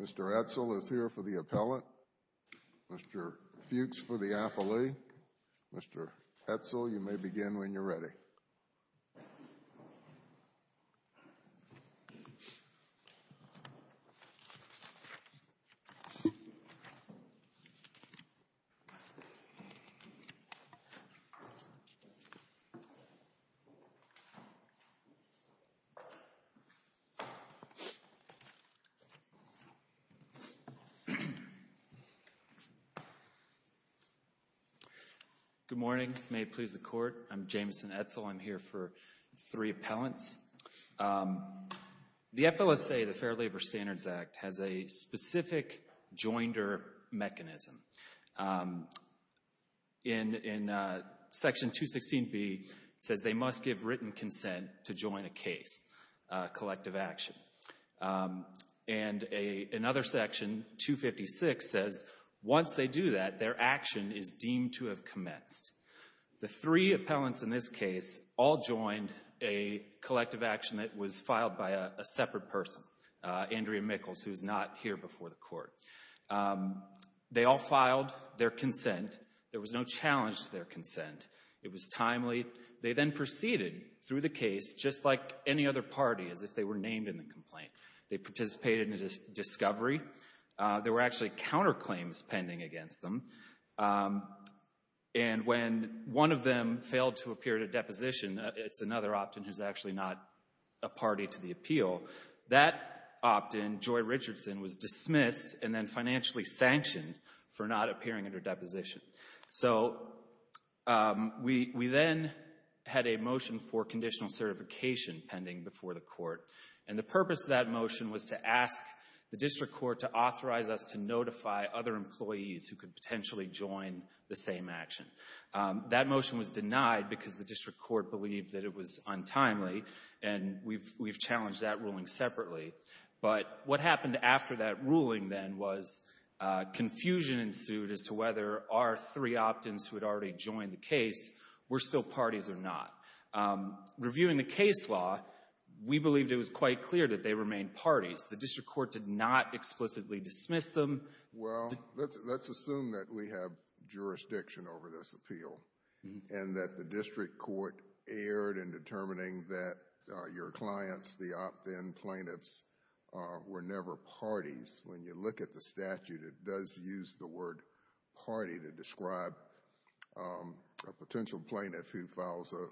Mr. Edsel is here for the appellate. Mr. Fuchs for the appellee. Mr. Edsel, you may begin when you're ready. Good morning. May it please the Court. I'm Jameson Edsel. I'm here for three appellants. The FLSA, the Fair Labor Standards Act, has a specific joinder mechanism. In Section 216B, it says they must give written consent to join a case, a collective action. And another section, 256, says once they do that, their action is deemed to have commenced. The three appellants in this case all joined a collective action that was filed by a separate person, Andrea Mickles, who's not here before the Court. They all filed their consent. There was no challenge to their consent. It was timely. They then proceeded through the case just like any other party, as if they were named in the complaint. They participated in a discovery. There were actually counterclaims pending against them. And when one of them failed to appear at a deposition, it's another opt-in who's actually not a party to the appeal, that opt-in, Joy Richardson, was dismissed and then financially sanctioned for not appearing at her deposition. So we then had a motion for conditional certification pending before the Court. And the purpose of that motion was to ask the District Court to authorize us to notify other employees who could potentially join the same action. That motion was denied because the District Court believed that it was untimely, and we've challenged that ruling separately. But what happened after that ruling, then, was confusion ensued as to whether our three opt-ins who had already joined the case were still parties or not. Reviewing the case law, we believed it was quite clear that they remained parties. The District Court did not explicitly dismiss them. Well, let's assume that we have jurisdiction over this appeal and that the District Court erred in determining that your clients, the opt-in plaintiffs, were never parties. When you look at the statute, it does use the word party to describe a potential plaintiff who files a,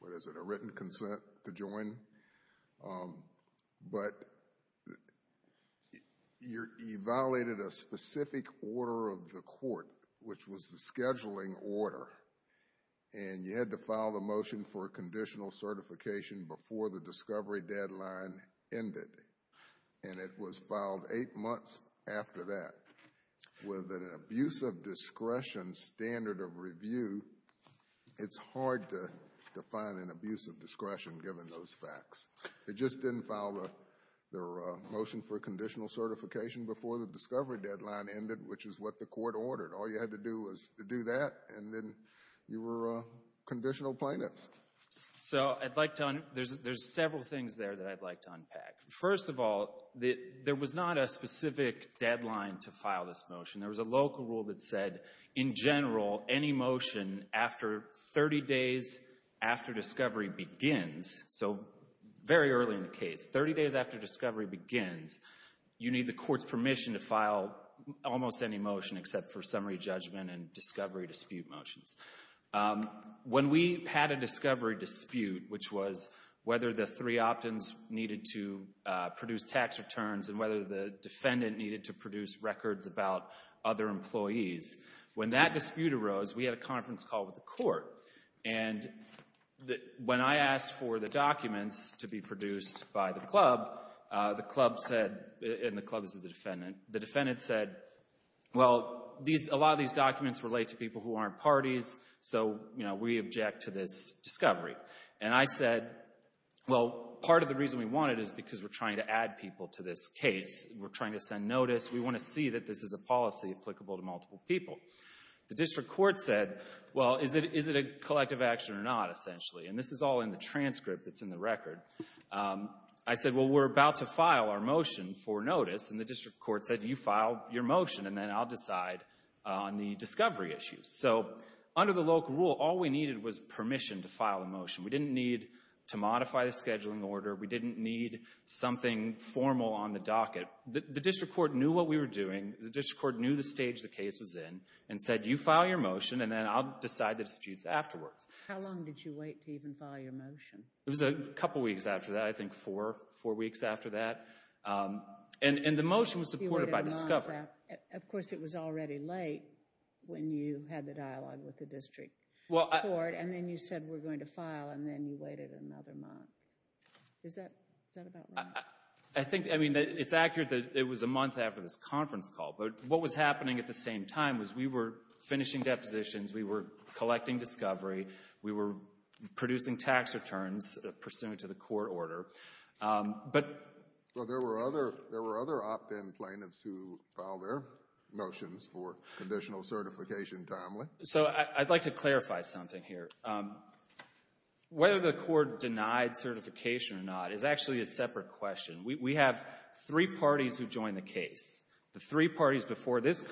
what is it, a written consent to join. But you violated a specific order of the Court, which was the scheduling order. And you had to file the motion for conditional certification before the discovery deadline ended. And it was filed eight months after that. With an abuse of discretion standard of review, it's hard to find an abuse of discretion given those facts. It just didn't file their motion for conditional certification before the discovery deadline ended, which is what the Court ordered. All you had to do was to do that, and then you were conditional plaintiffs. So I'd like to—there's several things there that I'd like to unpack. First of all, there was not a specific deadline to file this motion. There was a local rule that said, in general, any motion after 30 days after discovery begins, so very early in the case, 30 days after discovery begins, you need the Court's permission to file almost any motion except for summary judgment and discovery dispute motions. When we had a discovery dispute, which was whether the three opt-ins needed to produce tax returns and whether the defendant needed to produce records about other employees, when that dispute arose, we had a conference call with the Court. And when I asked for the documents to be produced by the club, the club said—and the club is the defendant— the defendant said, well, a lot of these documents relate to people who aren't parties, so we object to this discovery. And I said, well, part of the reason we want it is because we're trying to add people to this case. We're trying to send notice. We want to see that this is a policy applicable to multiple people. The district court said, well, is it a collective action or not, essentially? And this is all in the transcript that's in the record. I said, well, we're about to file our motion for notice, and the district court said, you file your motion, and then I'll decide on the discovery issues. So under the local rule, all we needed was permission to file a motion. We didn't need to modify the scheduling order. We didn't need something formal on the docket. The district court knew what we were doing. The district court knew the stage the case was in and said, you file your motion, and then I'll decide the disputes afterwards. How long did you wait to even file your motion? It was a couple weeks after that, I think four weeks after that. And the motion was supported by discovery. Of course, it was already late when you had the dialogue with the district court, and then you said we're going to file, and then you waited another month. Is that about right? I think, I mean, it's accurate that it was a month after this conference call, but what was happening at the same time was we were finishing depositions, we were collecting discovery, we were producing tax returns pursuant to the court order. But there were other opt-in plaintiffs who filed their motions for conditional certification timely. So I'd like to clarify something here. Whether the court denied certification or not is actually a separate question. We have three parties who joined the case. The three parties before this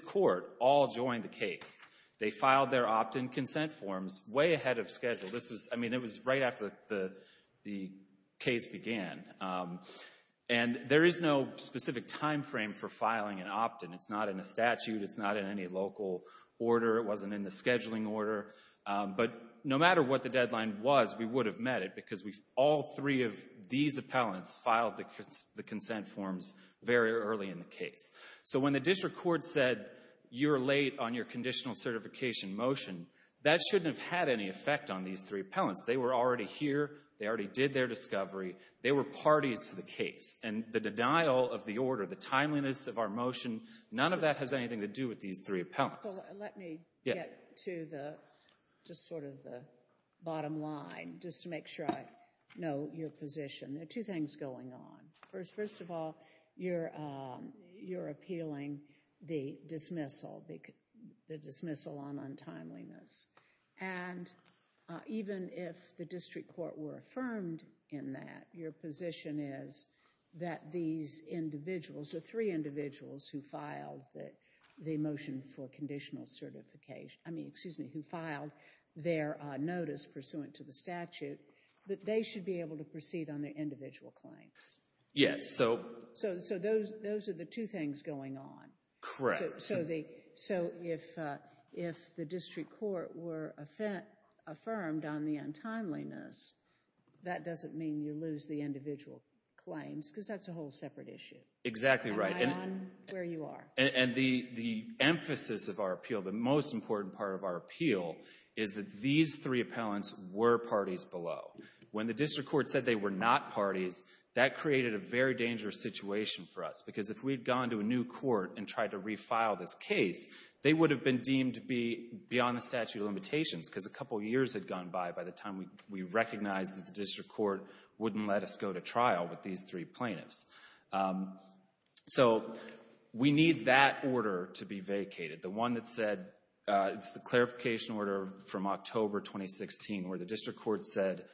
court all joined the case. They filed their opt-in consent forms way ahead of schedule. I mean, it was right after the case began. And there is no specific time frame for filing an opt-in. It's not in a statute. It's not in any local order. It wasn't in the scheduling order. But no matter what the deadline was, we would have met it because all three of these appellants filed the consent forms very early in the case. So when the district court said, you're late on your conditional certification motion, that shouldn't have had any effect on these three appellants. They were already here. They already did their discovery. They were parties to the case. And the denial of the order, the timeliness of our motion, none of that has anything to do with these three appellants. Let me get to just sort of the bottom line just to make sure I know your position. There are two things going on. First of all, you're appealing the dismissal, the dismissal on untimeliness. And even if the district court were affirmed in that, your position is that these individuals, the three individuals who filed the motion for conditional certification, I mean, excuse me, who filed their notice pursuant to the statute, that they should be able to proceed on their individual claims. Yes. So those are the two things going on. Correct. So if the district court were affirmed on the untimeliness, that doesn't mean you lose the individual claims because that's a whole separate issue. Exactly right. And the emphasis of our appeal, the most important part of our appeal, is that these three appellants were parties below. When the district court said they were not parties, that created a very dangerous situation for us because if we had gone to a new court and tried to refile this case, they would have been deemed to be beyond the statute of limitations because a couple years had gone by by the time we recognized that the district court wouldn't let us go to trial with these three plaintiffs. So we need that order to be vacated. The one that said it's the clarification order from October 2016 where the district court said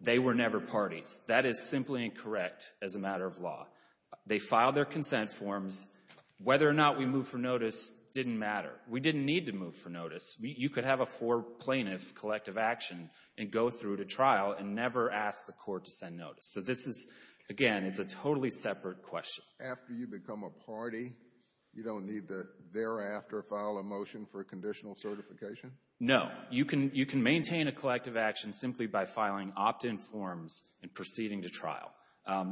they were never parties. That is simply incorrect as a matter of law. They filed their consent forms. Whether or not we move for notice didn't matter. We didn't need to move for notice. You could have a four plaintiff collective action and go through to trial and never ask the court to send notice. So this is, again, it's a totally separate question. After you become a party, you don't need to thereafter file a motion for conditional certification? No. You can maintain a collective action simply by filing opt-in forms and proceeding to trial.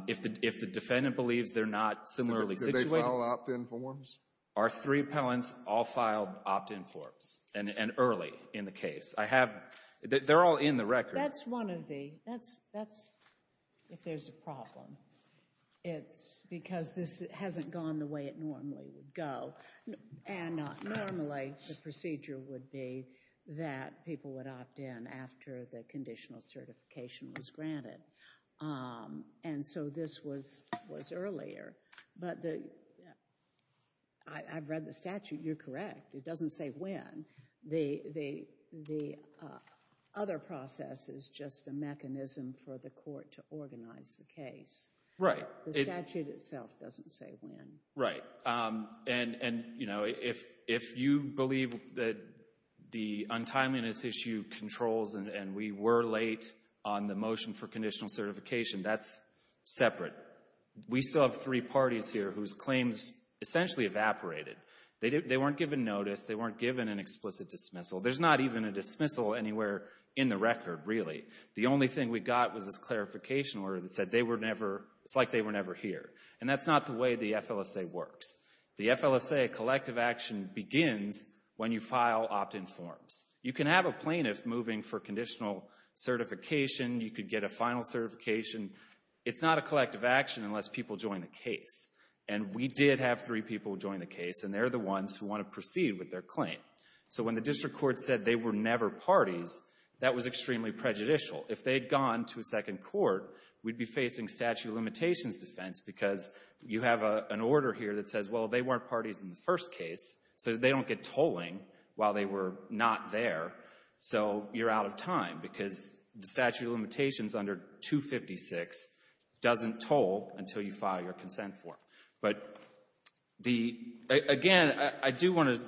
If the defendant believes they're not similarly situated. Could they file opt-in forms? Our three appellants all filed opt-in forms, and early in the case. I have, they're all in the record. That's one of the, that's if there's a problem. It's because this hasn't gone the way it normally would go. And normally the procedure would be that people would opt-in after the conditional certification was granted. And so this was earlier. But the, I've read the statute. You're correct. It doesn't say when. The other process is just a mechanism for the court to organize the case. Right. The statute itself doesn't say when. Right. And, you know, if you believe that the untimeliness issue controls and we were late on the motion for conditional certification, that's separate. We still have three parties here whose claims essentially evaporated. They weren't given notice. They weren't given an explicit dismissal. There's not even a dismissal anywhere in the record, really. The only thing we got was this clarification order that said they were never, it's like they were never here. And that's not the way the FLSA works. The FLSA collective action begins when you file opt-in forms. You can have a plaintiff moving for conditional certification. You could get a final certification. It's not a collective action unless people join the case. And we did have three people join the case, and they're the ones who want to proceed with their claim. So when the district court said they were never parties, that was extremely prejudicial. If they had gone to a second court, we'd be facing statute of limitations defense because you have an order here that says, well, they weren't parties in the first case, so they don't get tolling while they were not there. So you're out of time because the statute of limitations under 256 doesn't toll until you file your consent form. But again, I do want to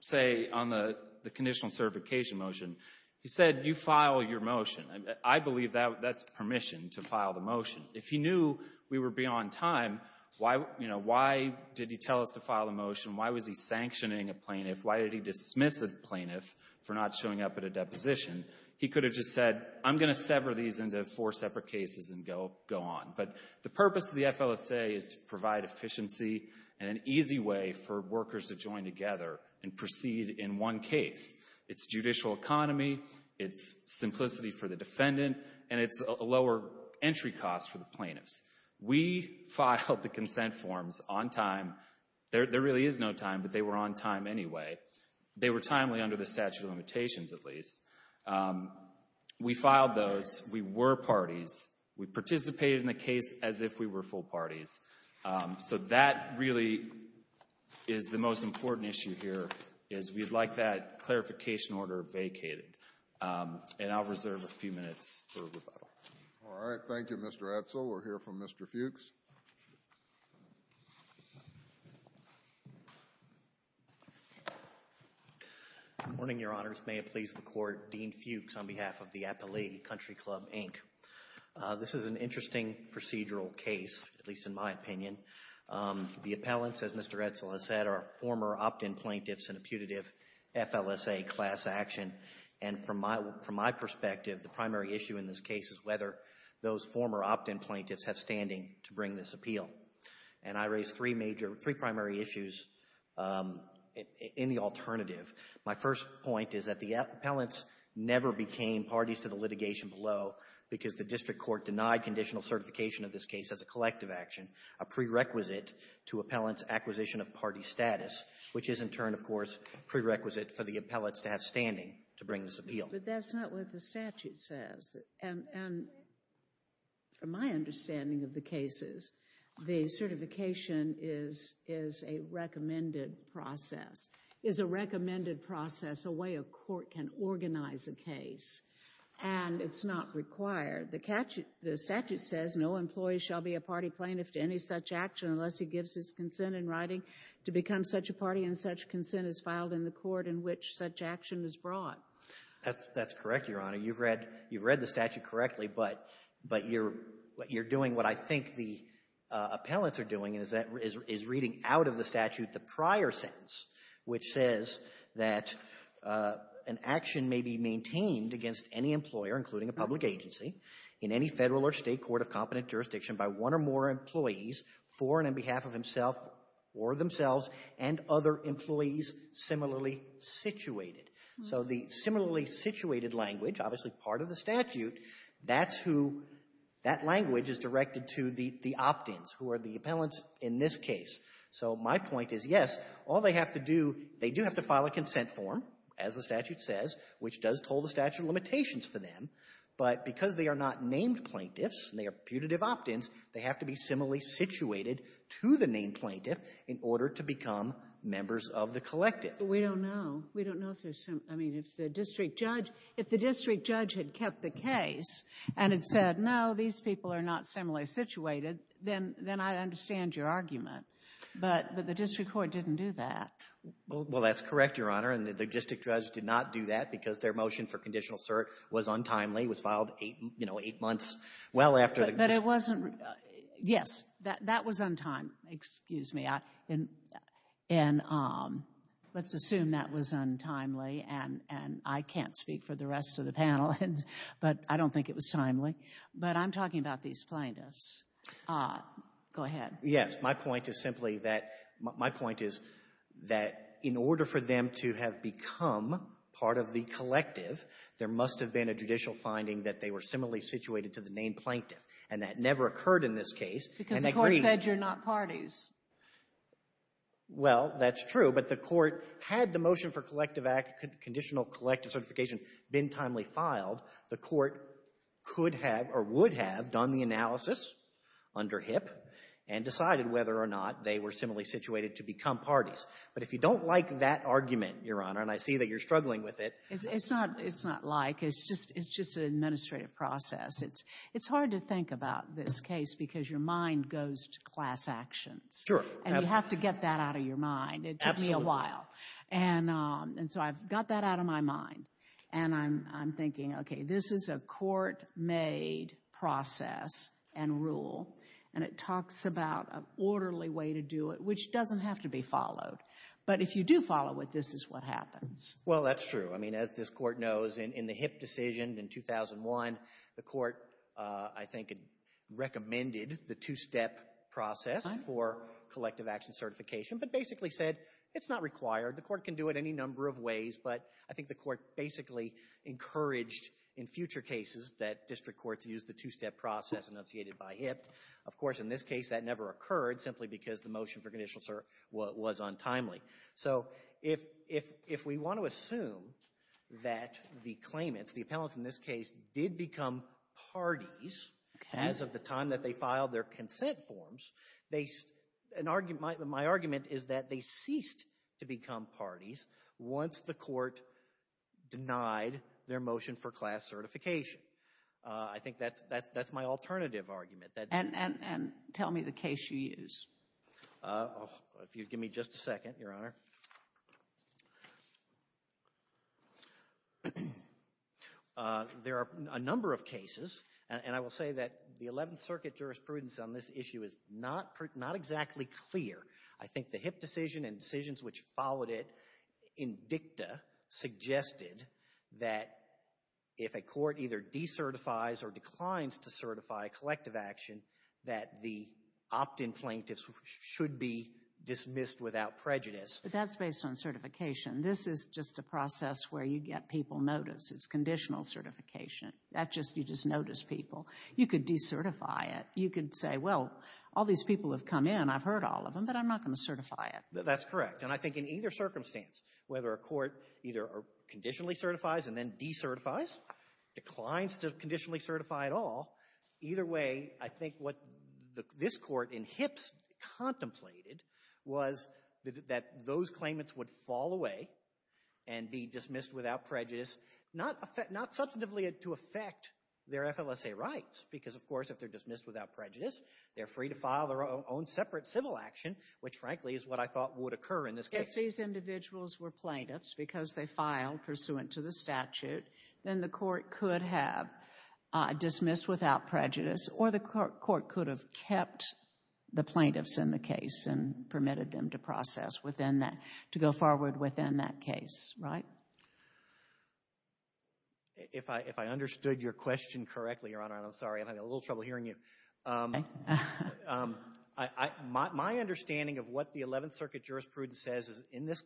say on the conditional certification motion, he said you file your motion. I believe that's permission to file the motion. If he knew we were beyond time, why did he tell us to file the motion? Why was he sanctioning a plaintiff? Why did he dismiss a plaintiff for not showing up at a deposition? He could have just said, I'm going to sever these into four separate cases and go on. But the purpose of the FLSA is to provide efficiency and an easy way for workers to join together and proceed in one case. It's judicial economy, it's simplicity for the defendant, and it's a lower entry cost for the plaintiffs. We filed the consent forms on time. There really is no time, but they were on time anyway. They were timely under the statute of limitations at least. We filed those. We were parties. We participated in the case as if we were full parties. So that really is the most important issue here, is we'd like that clarification order vacated. And I'll reserve a few minutes for rebuttal. All right. Thank you, Mr. Edsel. We'll hear from Mr. Fuchs. Good morning, Your Honors. May it please the Court, Dean Fuchs on behalf of the Appellee Country Club, Inc. This is an interesting procedural case, at least in my opinion. The appellants, as Mr. Edsel has said, are former opt-in plaintiffs in a putative FLSA class action. And from my perspective, the primary issue in this case is whether those former opt-in plaintiffs have standing to bring this appeal. And I raised three primary issues in the alternative. My first point is that the appellants never became parties to the litigation below because the district court denied conditional certification of this case as a collective action, a prerequisite to appellants' acquisition of party status, which is in turn, of course, prerequisite for the appellants to have standing to bring this appeal. But that's not what the statute says. And from my understanding of the cases, the certification is a recommended process, is a recommended process, a way a court can organize a case. And it's not required. The statute says no employee shall be a party plaintiff to any such action unless he gives his consent in writing to become such a party and such consent is filed in the court in which such action is brought. That's correct, Your Honor. You've read the statute correctly, but you're doing what I think the appellants are doing, and that is reading out of the statute the prior sentence, which says that an action may be maintained against any employer, including a public agency, in any Federal or State court of competent jurisdiction by one or more employees for and on behalf of himself or themselves and other employees similarly situated. So the similarly situated language, obviously part of the statute, that's who that language is directed to the opt-ins, who are the appellants in this case. So my point is, yes, all they have to do, they do have to file a consent form, as the statute says, which does hold the statute of limitations for them. But because they are not named plaintiffs and they are putative opt-ins, they have to be similarly situated to the named plaintiff in order to become members of the collective. But we don't know. We don't know if there's some — I mean, if the district judge — if the district judge had kept the case and had said, no, these people are not similarly situated, then I understand your argument. But the district court didn't do that. Well, that's correct, Your Honor, and the district judge did not do that because their motion for conditional cert was untimely, was filed eight months well after the — But it wasn't — yes, that was untimely. Excuse me. And let's assume that was untimely, and I can't speak for the rest of the panel, but I don't think it was timely. But I'm talking about these plaintiffs. Go ahead. Yes. My point is simply that — my point is that in order for them to have become part of the collective, there must have been a judicial finding that they were similarly situated to the named plaintiff, and that never occurred in this case. Because the court said you're not parties. Well, that's true, but the court had the motion for collective act — conditional collective certification been timely filed, the court could have or would have done the analysis under HIP and decided whether or not they were similarly situated to become parties. But if you don't like that argument, Your Honor, and I see that you're struggling with it — It's not — it's not like. It's just an administrative process. It's hard to think about this case because your mind goes to class actions. Sure. And you have to get that out of your mind. Absolutely. It took me a while. And so I've got that out of my mind, and I'm thinking, okay, this is a court-made process and rule, and it talks about an orderly way to do it, which doesn't have to be followed. But if you do follow it, this is what happens. Well, that's true. I mean, as this court knows, in the HIP decision in 2001, the court, I think, had recommended the two-step process for collective action certification but basically said it's not required. The court can do it any number of ways, but I think the court basically encouraged in future cases that district courts use the two-step process enunciated by HIP. Of course, in this case, that never occurred simply because the motion for conditional was untimely. So if we want to assume that the claimants, the appellants in this case, did become parties as of the time that they filed their consent forms, my argument is that they ceased to become parties once the court denied their motion for class certification. I think that's my alternative argument. And tell me the case you use. If you'd give me just a second, Your Honor. There are a number of cases, and I will say that the 11th Circuit jurisprudence on this issue is not exactly clear. I think the HIP decision and decisions which followed it in dicta suggested that if a court either decertifies or declines to certify collective action, that the opt-in plaintiffs should be dismissed without prejudice. But that's based on certification. This is just a process where you get people notice. It's conditional certification. That's just you just notice people. You could decertify it. You could say, well, all these people have come in. I've heard all of them, but I'm not going to certify it. That's correct. And I think in either circumstance, whether a court either conditionally certifies and then decertifies, declines to conditionally certify at all, either way, I think what this Court in HIP's contemplated was that those claimants would fall away and be dismissed without prejudice, not substantively to affect their FLSA rights because, of course, if they're dismissed without prejudice, they're free to file their own separate civil action, which, frankly, is what I thought would occur in this case. If these individuals were plaintiffs because they filed pursuant to the statute, then the court could have dismissed without prejudice or the court could have kept the plaintiffs in the case and permitted them to process within that, to go forward within that case, right? If I understood your question correctly, Your Honor, I'm sorry. I'm having a little trouble hearing you. My understanding of what the Eleventh Circuit jurisprudence says is in this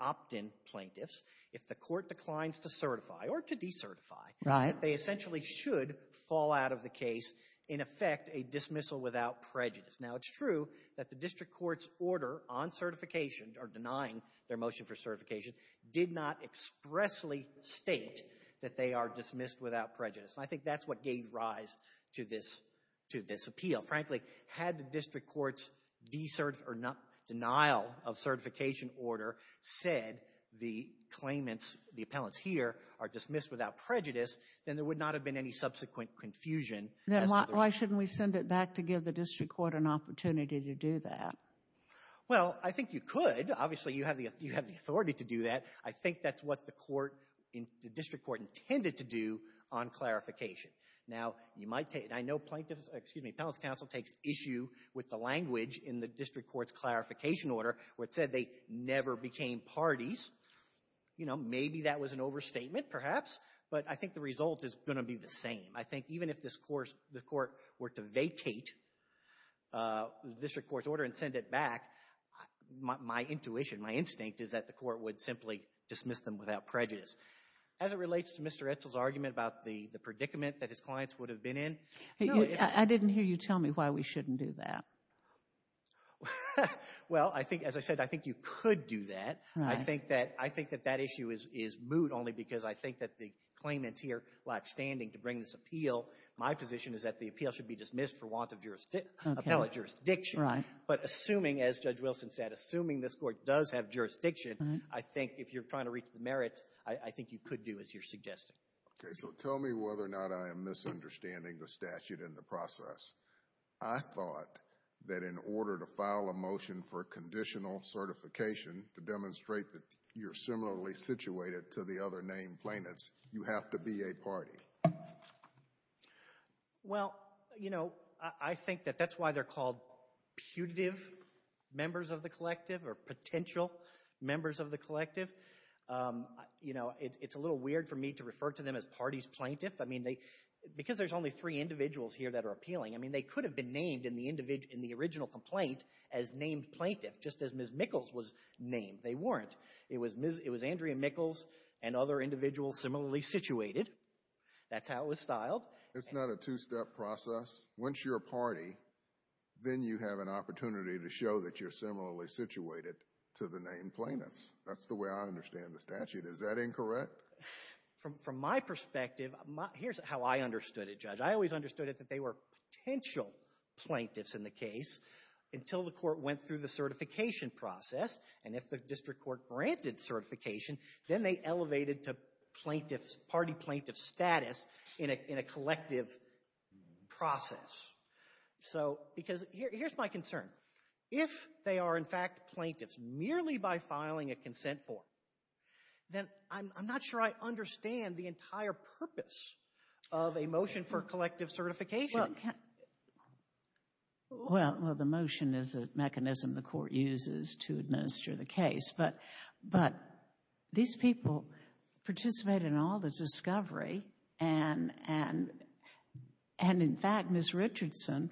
opt-in plaintiffs, if the court declines to certify or to decertify, they essentially should fall out of the case, in effect, a dismissal without prejudice. Now, it's true that the district court's order on certification or denying their motion for certification did not expressly state that they are dismissed without prejudice, and I think that's what gave rise to this appeal. Frankly, had the district court's denial of certification order said the claimants, the appellants here, are dismissed without prejudice, then there would not have been any subsequent confusion. Then why shouldn't we send it back to give the district court an opportunity to do that? Well, I think you could. Obviously, you have the authority to do that. I think that's what the court, the district court, intended to do on clarification. Now, you might take, I know plaintiffs, excuse me, appellants counsel takes issue with the language in the district court's clarification order where it said they never became parties. You know, maybe that was an overstatement, perhaps, but I think the result is going to be the same. I think even if this court, the court were to vacate the district court's order and send it back, my intuition, my instinct is that the court would simply dismiss them without prejudice. As it relates to Mr. Edsel's argument about the predicament that his clients would have been in. I didn't hear you tell me why we shouldn't do that. Well, I think, as I said, I think you could do that. I think that that issue is moot only because I think that the claimants here, while I'm standing to bring this appeal, my position is that the appeal should be dismissed for want of appellate jurisdiction. But assuming, as Judge Wilson said, assuming this court does have jurisdiction, I think if you're trying to reach the merits, I think you could do, as you're suggesting. Okay, so tell me whether or not I am misunderstanding the statute in the process. I thought that in order to file a motion for conditional certification to demonstrate that you're similarly situated to the other named claimants, you have to be a party. Well, you know, I think that that's why they're called putative members of the collective or potential members of the collective. You know, it's a little weird for me to refer to them as parties plaintiff. I mean, because there's only three individuals here that are appealing, I mean, they could have been named in the original complaint as named plaintiff, just as Ms. Mickles was named. They weren't. It was Andrea Mickles and other individuals similarly situated. That's how it was styled. It's not a two-step process. Once you're a party, then you have an opportunity to show that you're similarly situated to the named plaintiffs. That's the way I understand the statute. Is that incorrect? From my perspective, here's how I understood it, Judge. I always understood it that they were potential plaintiffs in the case until the court went through the certification process, and if the district court granted certification, then they elevated to party plaintiff status in a collective process. Because here's my concern. If they are, in fact, plaintiffs merely by filing a consent form, then I'm not sure I understand the entire purpose of a motion for collective certification. Well, the motion is a mechanism the court uses to administer the case, but these people participated in all the discovery, and, in fact, Ms. Richardson,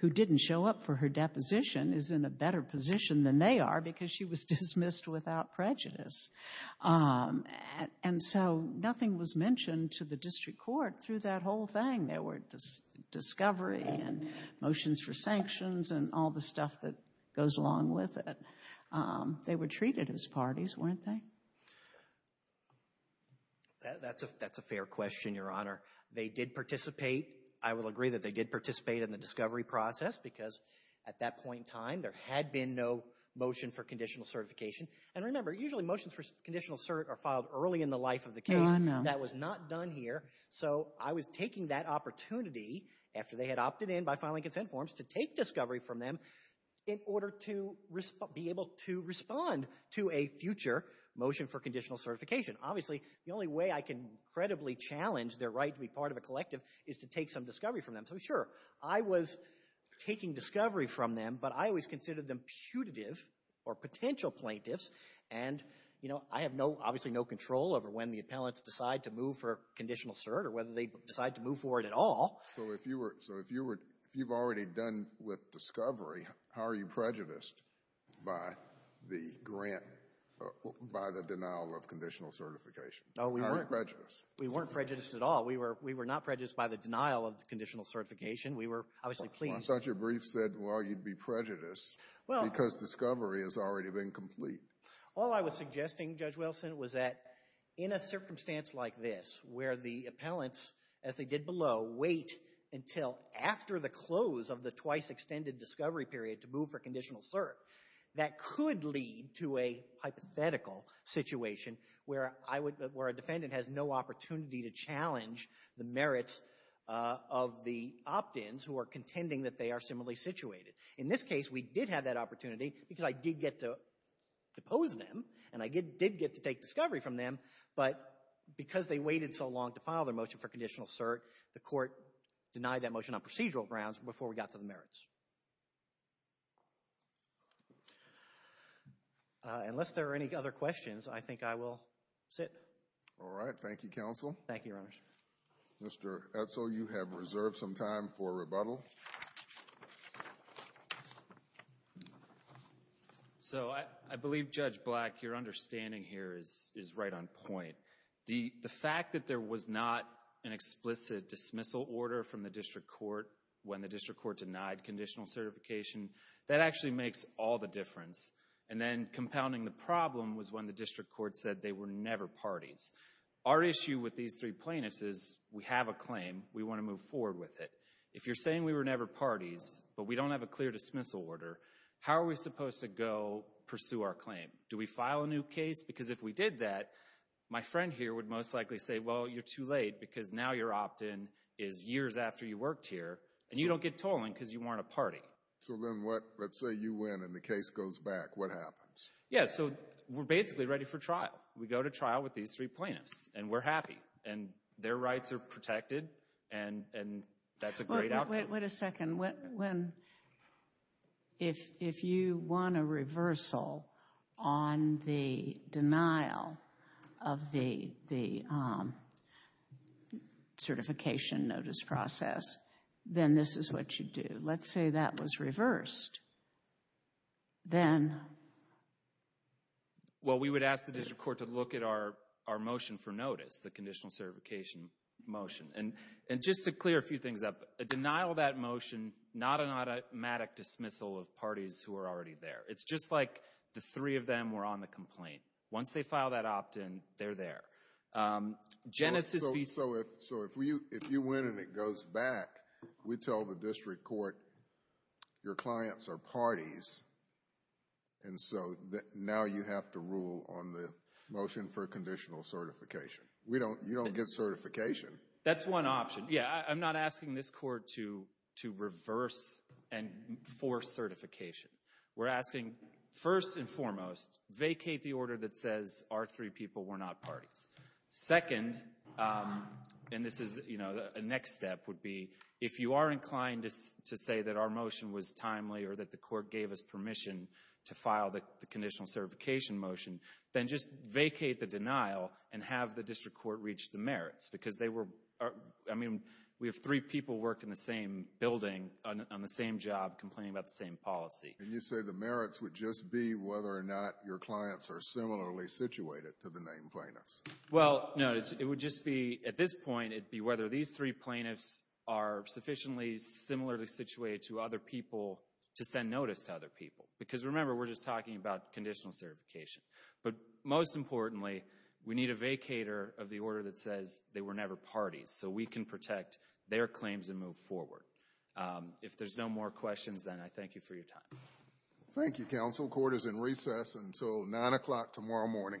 who didn't show up for her deposition, is in a better position than they are because she was dismissed without prejudice. And so nothing was mentioned to the district court through that whole thing. There were discovery and motions for sanctions and all the stuff that goes along with it. They were treated as parties, weren't they? That's a fair question, Your Honor. They did participate. I will agree that they did participate in the discovery process because, at that point in time, there had been no motion for conditional certification. And remember, usually motions for conditional cert are filed early in the life of the case. No, I know. That was not done here. So I was taking that opportunity, after they had opted in by filing consent forms, to take discovery from them in order to be able to respond to a future motion for conditional certification. Obviously, the only way I can credibly challenge their right to be part of a collective is to take some discovery from them. So, sure, I was taking discovery from them, but I always considered them putative or potential plaintiffs. And, you know, I have obviously no control over when the appellants decide to move for conditional cert or whether they decide to move for it at all. So if you've already done with discovery, how are you prejudiced by the denial of conditional certification? How are you prejudiced? We weren't prejudiced at all. We were not prejudiced by the denial of conditional certification. We were obviously pleased. Well, I thought your brief said, well, you'd be prejudiced because discovery has already been complete. All I was suggesting, Judge Wilson, was that in a circumstance like this where the appellants, as they did below, wait until after the close of the twice-extended discovery period to move for conditional cert, that could lead to a hypothetical situation where a defendant has no opportunity to challenge the merits of the opt-ins who are contending that they are similarly situated. In this case, we did have that opportunity because I did get to depose them, and I did get to take discovery from them, but because they waited so long to file their motion for conditional cert, the court denied that motion on procedural grounds before we got to the merits. Unless there are any other questions, I think I will sit. All right. Thank you, counsel. Thank you, Your Honors. Mr. Etzel, you have reserved some time for rebuttal. So I believe, Judge Black, your understanding here is right on point. The fact that there was not an explicit dismissal order from the district court when the district court denied conditional certification, that actually makes all the difference. And then compounding the problem was when the district court said they were never parties. Our issue with these three plaintiffs is we have a claim. We want to move forward with it. If you're saying we were never parties, but we don't have a clear dismissal order, how are we supposed to go pursue our claim? Do we file a new case? Because if we did that, my friend here would most likely say, well, you're too late because now your opt-in is years after you worked here, and you don't get told because you weren't a party. So then let's say you win and the case goes back. What happens? Yeah, so we're basically ready for trial. We go to trial with these three plaintiffs, and we're happy. And their rights are protected, and that's a great outcome. Wait a second. If you won a reversal on the denial of the certification notice process, then this is what you do. Let's say that was reversed. Then? Well, we would ask the district court to look at our motion for notice, the conditional certification motion. And just to clear a few things up, a denial of that motion, not an automatic dismissal of parties who are already there. It's just like the three of them were on the complaint. Once they file that opt-in, they're there. So if you win and it goes back, we tell the district court your clients are parties, and so now you have to rule on the motion for conditional certification. You don't get certification. That's one option. Yeah, I'm not asking this court to reverse and force certification. We're asking, first and foremost, vacate the order that says our three people were not parties. Second, and this is, you know, a next step would be, if you are inclined to say that our motion was timely or that the court gave us permission to file the conditional certification motion, then just vacate the denial and have the district court reach the merits, because they were, I mean, we have three people worked in the same building on the same job complaining about the same policy. And you say the merits would just be whether or not your clients are similarly situated to the named plaintiffs. Well, no, it would just be, at this point, it'd be whether these three plaintiffs are sufficiently similarly situated to other people to send notice to other people. Because remember, we're just talking about conditional certification. But most importantly, we need a vacator of the order that says they were never parties, so we can protect their claims and move forward. If there's no more questions, then I thank you for your time. Thank you, counsel. Court is in recess until 9 o'clock tomorrow morning. All rise.